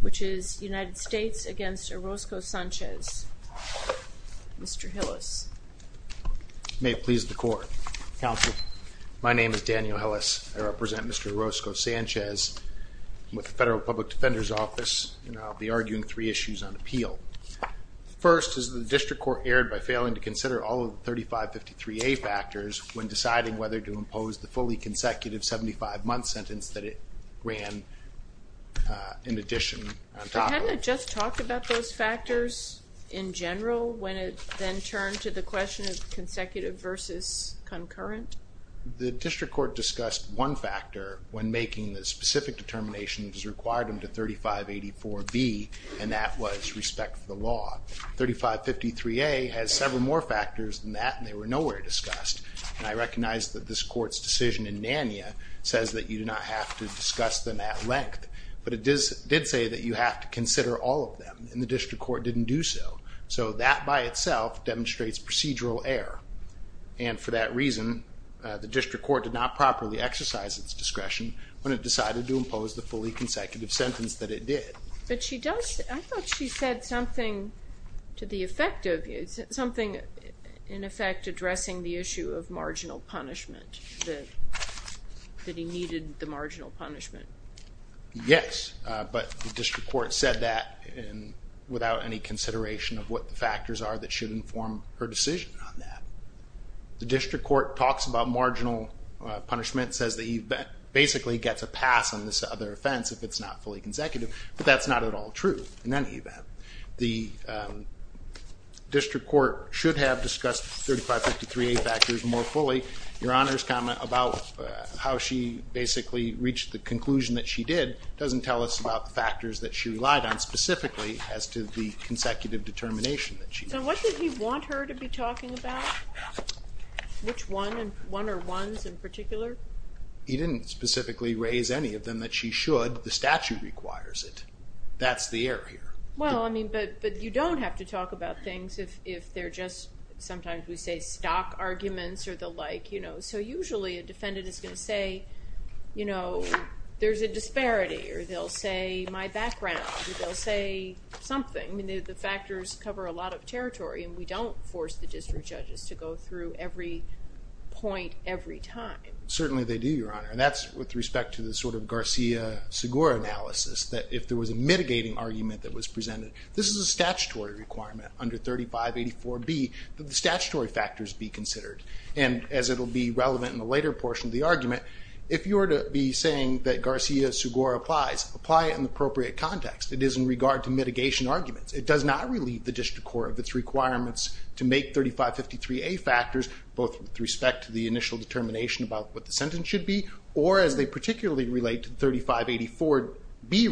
which is United States against Orozco-Sanchez. Mr. Hillis. May it please the court. Counsel. My name is Daniel Hillis. I represent Mr. Orozco-Sanchez with the Federal Public Defender's Office and I'll be arguing three issues on appeal. First, is the district court erred by failing to consider all of the 3553A factors when deciding whether to impose the fully consecutive 75-month sentence that it ran in addition. Hadn't it just talked about those factors in general when it then turned to the question of consecutive versus concurrent? The district court discussed one factor when making the specific determination it was required under 3584B and that was respect for the law. 3553A has several more factors than that and they were nowhere discussed and I recognize that this court's decision in NANIA says that you do not have to discuss them at length but it did say that you have to consider all of them and the district court didn't do so. So that by itself demonstrates procedural error and for that reason the district court did not properly exercise its discretion when it decided to impose the fully consecutive sentence that it did. But she does, I thought she said something to the effect of you, something in effect addressing the issue of marginal punishment, that he needed the marginal punishment. Yes, but the district court said that without any consideration of what the factors are that should inform her decision on that. The district court talks about marginal punishment, says that he basically gets a pass on this other offense if it's not fully consecutive but that's not at all true in any event. The district court should have discussed 3553A factors more fully. Your Honor's comment about how she basically reached the conclusion that she did doesn't tell us about the factors that she relied on specifically as to the consecutive determination. So what did he want her to be talking about? Which one and one or ones in particular? He didn't specifically raise any of them that she should, the statute requires it. That's the error here. Well I mean but but you don't have to talk about things if if they're just sometimes we say stock arguments or the like you know so usually a defendant is going to say you know there's a disparity or they'll say my background, they'll say something. I mean the factors cover a lot of territory and we don't force the district judges to go through every point every time. Certainly they do, Your Honor. In the Garcia-Segura analysis that if there was a mitigating argument that was presented, this is a statutory requirement under 3584B that the statutory factors be considered and as it'll be relevant in the later portion of the argument, if you were to be saying that Garcia-Segura applies, apply it in the appropriate context. It is in regard to mitigation arguments. It does not relieve the district court of its requirements to make 3553A factors both with respect to the initial determination about what the sentence should be or as they particularly relate to 3584B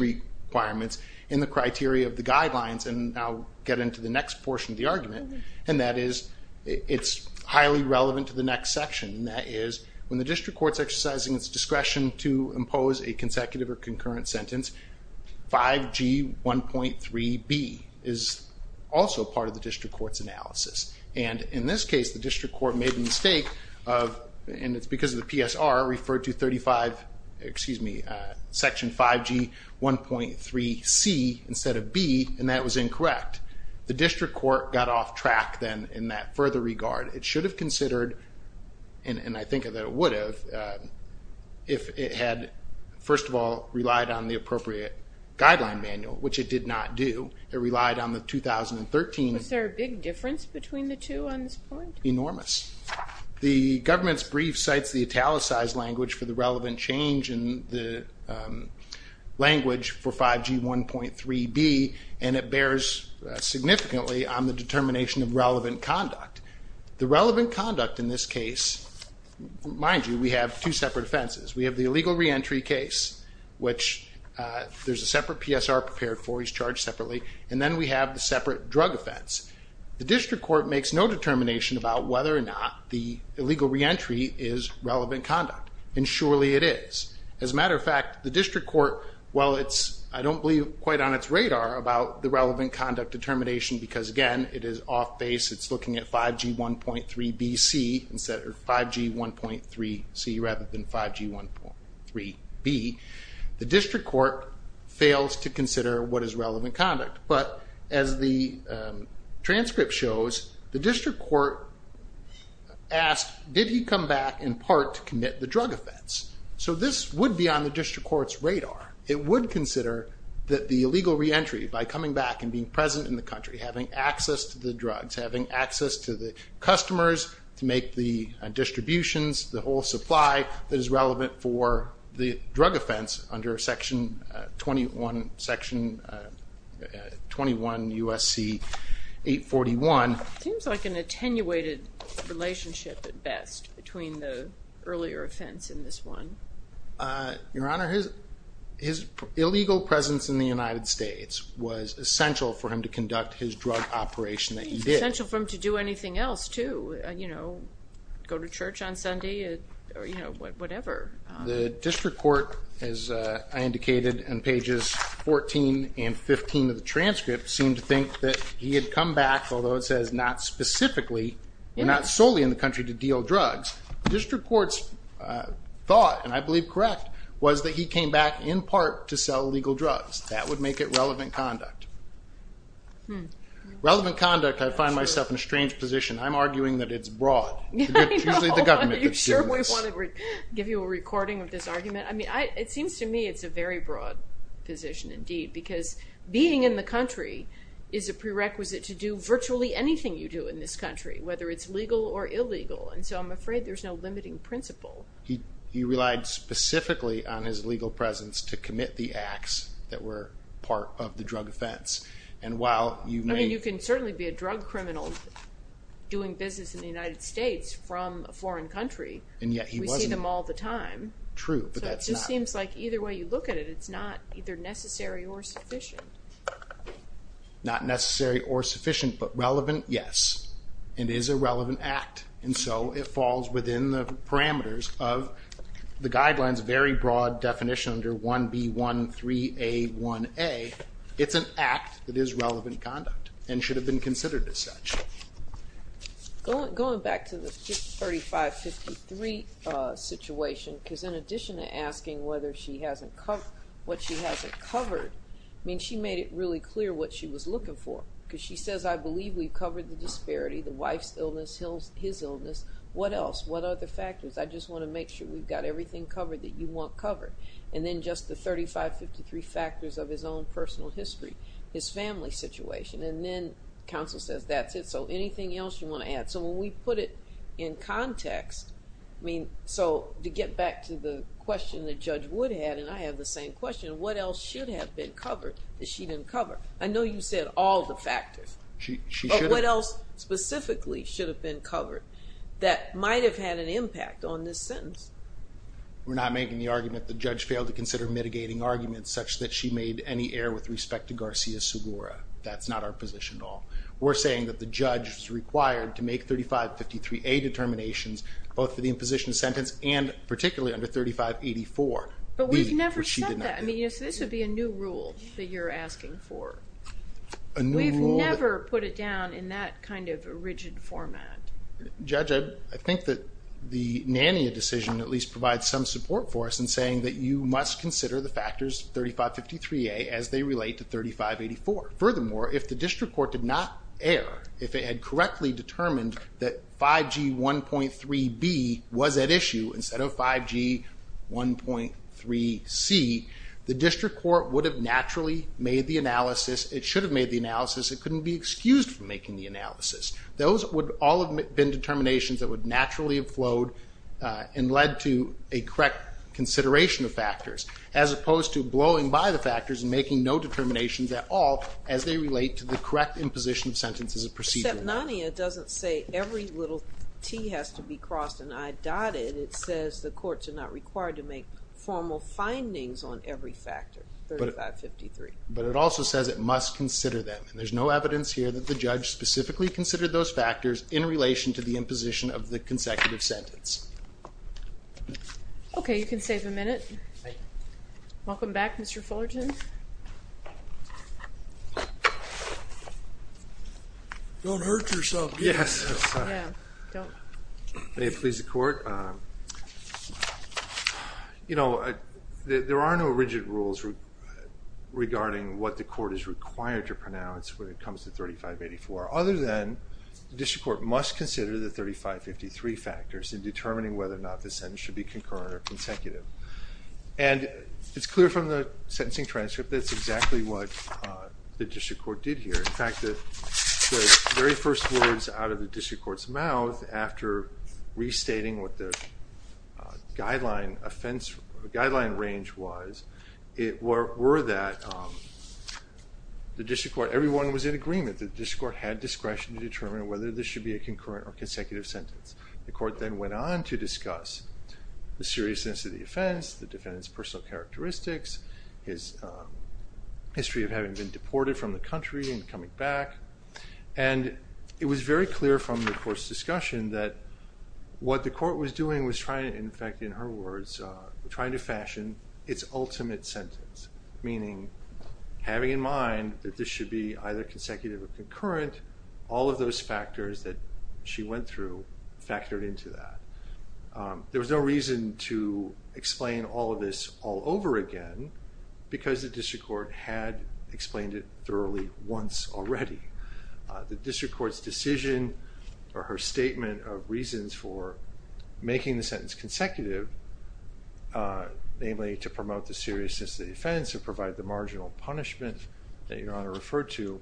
requirements in the criteria of the guidelines and I'll get into the next portion of the argument and that is it's highly relevant to the next section. That is when the district court's exercising its discretion to impose a consecutive or concurrent sentence, 5G 1.3B is also part of the district court's analysis and in this referred to 35, excuse me, section 5G 1.3C instead of B and that was incorrect. The district court got off track then in that further regard. It should have considered and I think that it would have if it had first of all relied on the appropriate guideline manual, which it did not do. It relied on the 2013. Was there a big difference between the two on this point? Enormous. The government's language for the relevant change in the language for 5G 1.3B and it bears significantly on the determination of relevant conduct. The relevant conduct in this case, mind you, we have two separate offenses. We have the illegal reentry case, which there's a separate PSR prepared for, he's charged separately and then we have the separate drug offense. The district court makes no determination about whether or not the illegal reentry is relevant conduct and surely it is. As a matter of fact, the district court, while it's, I don't believe quite on its radar about the relevant conduct determination because again it is off base, it's looking at 5G 1.3BC instead of 5G 1.3C rather than 5G 1.3B, the district court fails to consider what is relevant conduct. But as the transcript shows, the district court asked, did he come back in part to commit the drug offense? So this would be on the district court's radar. It would consider that the illegal reentry by coming back and being present in the country, having access to the drugs, having access to the customers to make the distributions, the whole supply that is relevant for the drug offense under section 21, section 21 USC 841. Seems like an attenuated relationship at best between the earlier offense and this one. Your Honor, his illegal presence in the United States was essential for him to conduct his drug operation that he did. Essential for him to do anything else too, you know, go to church on Sunday or you know whatever. The district court, as I indicated in pages 14 and 15 of the transcript, seemed to that he had come back, although it says not specifically, not solely in the country to deal drugs. The district court's thought, and I believe correct, was that he came back in part to sell illegal drugs. That would make it relevant conduct. Relevant conduct, I find myself in a strange position. I'm arguing that it's broad. I'm sure we want to give you a recording of this argument. I mean, it seems to me it's a very broad position indeed because being in the country is a prerequisite to do virtually anything you do in this country, whether it's legal or illegal, and so I'm afraid there's no limiting principle. He relied specifically on his legal presence to commit the acts that were part of the drug offense, and while you may... I mean, you can certainly be a drug criminal doing business in the United States from a foreign country. And yet he wasn't. We see them all the time. True, but that's not... It just seems like either way you look at it, it's not either necessary or sufficient, but relevant, yes. It is a relevant act, and so it falls within the parameters of the guidelines, very broad definition under 1B13A1A. It's an act that is relevant conduct and should have been considered as such. Going back to the 3553 situation, because in addition to asking whether she hasn't covered what she hasn't covered, I mean, she made it really clear what she was looking for, because she says, I believe we've covered the disparity, the wife's illness, his illness. What else? What other factors? I just want to make sure we've got everything covered that you want covered. And then just the 3553 factors of his own personal history, his family situation, and then counsel says that's it, so anything else you want to add? So when we put it in context, I mean, so to get back to the question that Judge Wood had, and I have the same question, what else should have been covered that she didn't cover? I know you said all the factors, but what else specifically should have been covered that might have had an impact on this sentence? We're not making the argument the judge failed to consider mitigating arguments such that she made any error with respect to Garcia-Segura. That's not our position at all. We're saying that the judge is required to make 3553A determinations, both for the imposition sentence and particularly under 3584. But we've never said that. I mean, this would be a new rule that you're asking for. We've never put it down in that kind of a rigid format. Judge, I think that the NANIA decision at least provides some support for us in saying that you must consider the factors 3553A as they relate to 3584. Furthermore, if the district court did not err, if it had correctly determined that 5G 1.3B was at issue instead of 5G 1.3C, the district court would have naturally made the analysis. It should have made the analysis. It couldn't be excused from making the analysis. Those would all have been determinations that would naturally have flowed and led to a correct consideration of factors, as opposed to blowing by the factors and making no determinations at all as they relate to the correct imposition of sentence as a procedure. Except NANIA doesn't say every little T has to be crossed and I dotted. It says the courts are not required to make formal findings on every factor, 3553. But it also says it must consider them and there's no evidence here that the judge specifically considered those factors in relation to the imposition of the consecutive sentence. Okay, you can save a minute. Welcome back Mr. Fullerton. Don't hurt yourself. Yes, may it please the court. You know, there are no rigid rules regarding what the court is required to pronounce when it comes to 3584, other than the district court must consider the 3553 factors in determining whether or not the sentence should be concurrent or consecutive. And it's clear from the sentencing transcript that's exactly what the district court did here. In fact, the very first words out of the district court's mouth after restating what the guideline range was, it were that the district court, everyone was in agreement that the district court had discretion to determine whether this should be a concurrent or consecutive sentence. The court then went on to discuss the seriousness of the offense, the defendant's personal characteristics, his history of having been deported from the country and coming back, and it was very clear from the court's discussion that what the court was doing was trying, in fact in her words, trying to fashion its ultimate sentence, meaning having in mind that this should be either consecutive or concurrent, all of those factors that she went through factored into that. There was no reason to explain all of this all over again because the district court had explained it thoroughly once already. The district court's decision or her statement of reasons for making the sentence consecutive, namely to promote the seriousness of the offense or provide the marginal punishment that Your Honor referred to,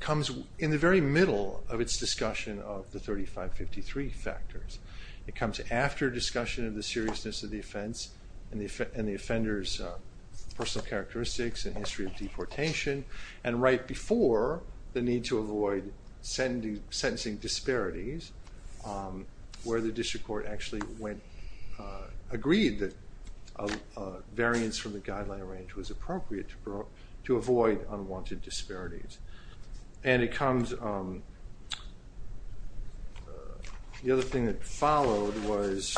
comes in the very middle of its discussion of the 3553 factors. It comes after discussion of the seriousness of the offense and the offender's personal characteristics and history of deportation, and right before the need to avoid sentencing disparities, where the district court actually agreed that a variance from the guideline range was the other thing that followed was,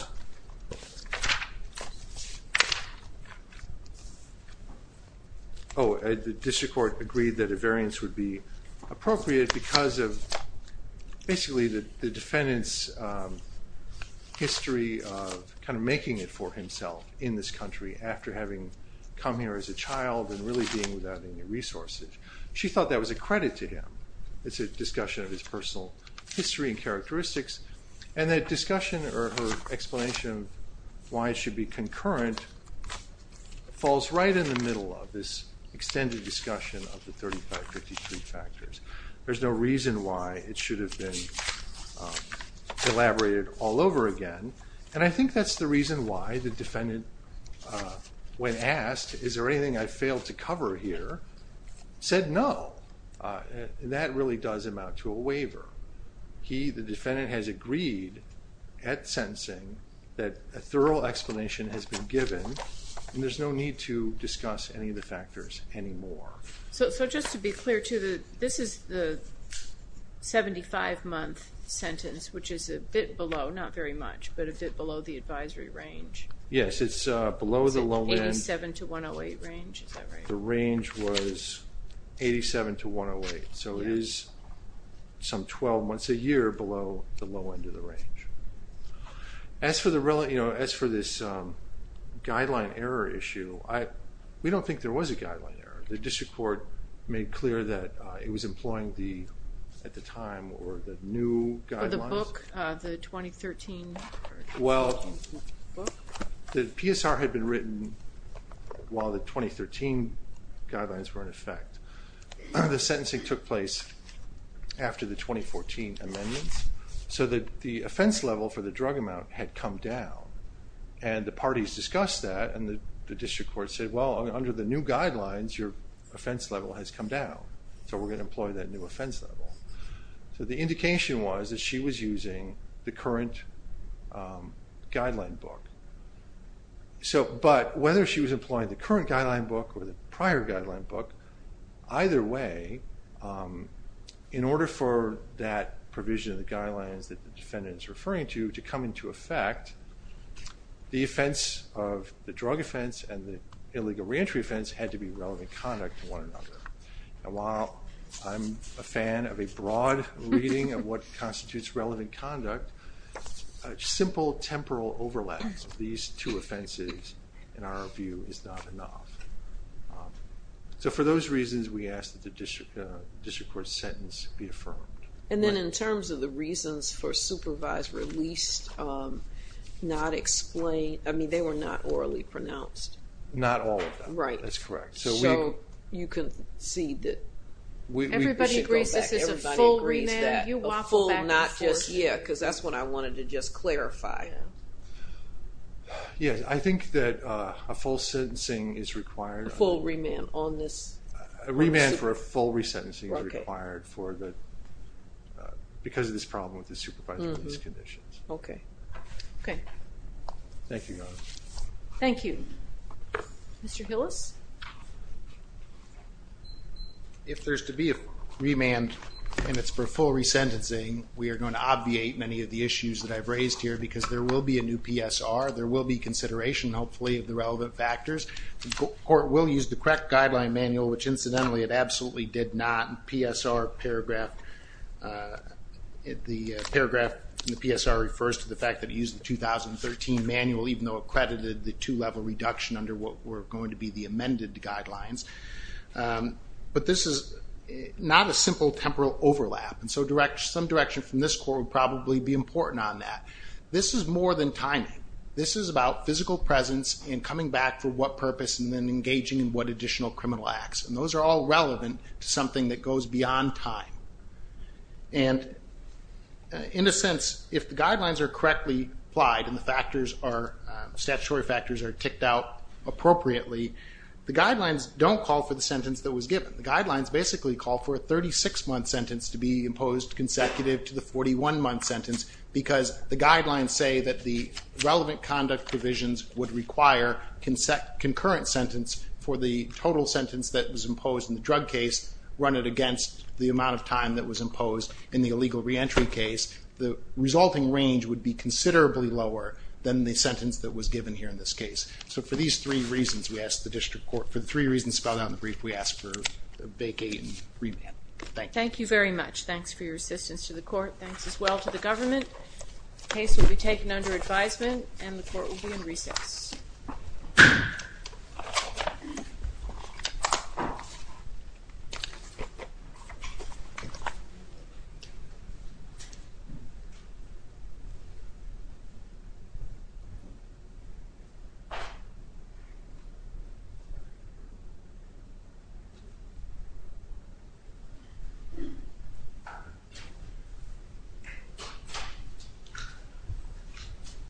oh, the district court agreed that a variance would be appropriate because of basically the defendant's history of kind of making it for himself in this country after having come here as a child and really being without any resources. She thought that was a credit to him. It's a discussion of his personal history and characteristics, and that discussion or explanation of why it should be concurrent falls right in the middle of this extended discussion of the 3553 factors. There's no reason why it should have been elaborated all over again, and I think that's the reason why the defendant, when asked is there anything I failed to cover here, said no. That really does amount to a waiver. He, the defendant, has agreed at sentencing that a thorough explanation has been given, and there's no need to discuss any of the factors anymore. So just to be clear, this is the 75 month sentence which is a bit below, not very much, but a bit below the advisory range. Yes, it's 87 to 108, so it is some 12 months a year below the low end of the range. As for the relevant, you know, as for this guideline error issue, we don't think there was a guideline error. The district court made clear that it was employing the, at the time, or the new guidelines. For the book, the 2013. Well, the PSR had been written while the 2013 guidelines were in effect. The sentencing took place after the 2014 amendments, so that the offense level for the drug amount had come down, and the parties discussed that, and the district court said, well, under the new guidelines, your offense level has come down, so we're going to employ that new offense level. So the indication was that she was using the current guideline book. So, but whether she was employing the current guideline book or the prior guideline book, either way, in order for that provision of the guidelines that the defendant is referring to to come into effect, the offense of the drug offense and the illegal reentry offense had to be relevant conduct to one another. And while I'm a fan of a broad reading of what constitutes relevant conduct, a simple temporal overlaps of these two offenses, in our view, is not enough. So for those reasons, we ask that the district court's sentence be affirmed. And then in terms of the reasons for supervised release, not explained, I mean, they were not orally pronounced. Not all of them, that's correct. So you can see that we should go back. Everybody agrees that a full, not just, yeah, because that's what I wanted to just clarify. Yes, I think that a full sentencing is required. A full remand on this? A remand for a full resentencing is required for the, because of this problem with the supervised release conditions. Okay, okay. Thank you, Donna. Thank you. Mr. To be a remand and it's for full resentencing, we are going to obviate many of the issues that I've raised here because there will be a new PSR. There will be consideration, hopefully, of the relevant factors. The court will use the correct guideline manual, which incidentally it absolutely did not. PSR paragraph, the paragraph in the PSR refers to the fact that it used the 2013 manual, even though accredited the two-level reduction under what were not a simple temporal overlap. And so some direction from this court would probably be important on that. This is more than timing. This is about physical presence and coming back for what purpose and then engaging in what additional criminal acts. And those are all relevant to something that goes beyond time. And in a sense, if the guidelines are correctly applied and the statutory factors are ticked out appropriately, the guidelines don't call for the sentence that was given. The guidelines basically call for a 36-month sentence to be imposed consecutive to the 41-month sentence because the guidelines say that the relevant conduct provisions would require concurrent sentence for the total sentence that was imposed in the drug case, run it against the amount of time that was imposed in the illegal reentry case. The resulting range would be considerably lower than the sentence that was given here in this case. So for these three reasons, we asked the vacate and remand. Thank you very much. Thanks for your assistance to the court. Thanks as well to the government. The case will be taken under advisement and the court will be in recess.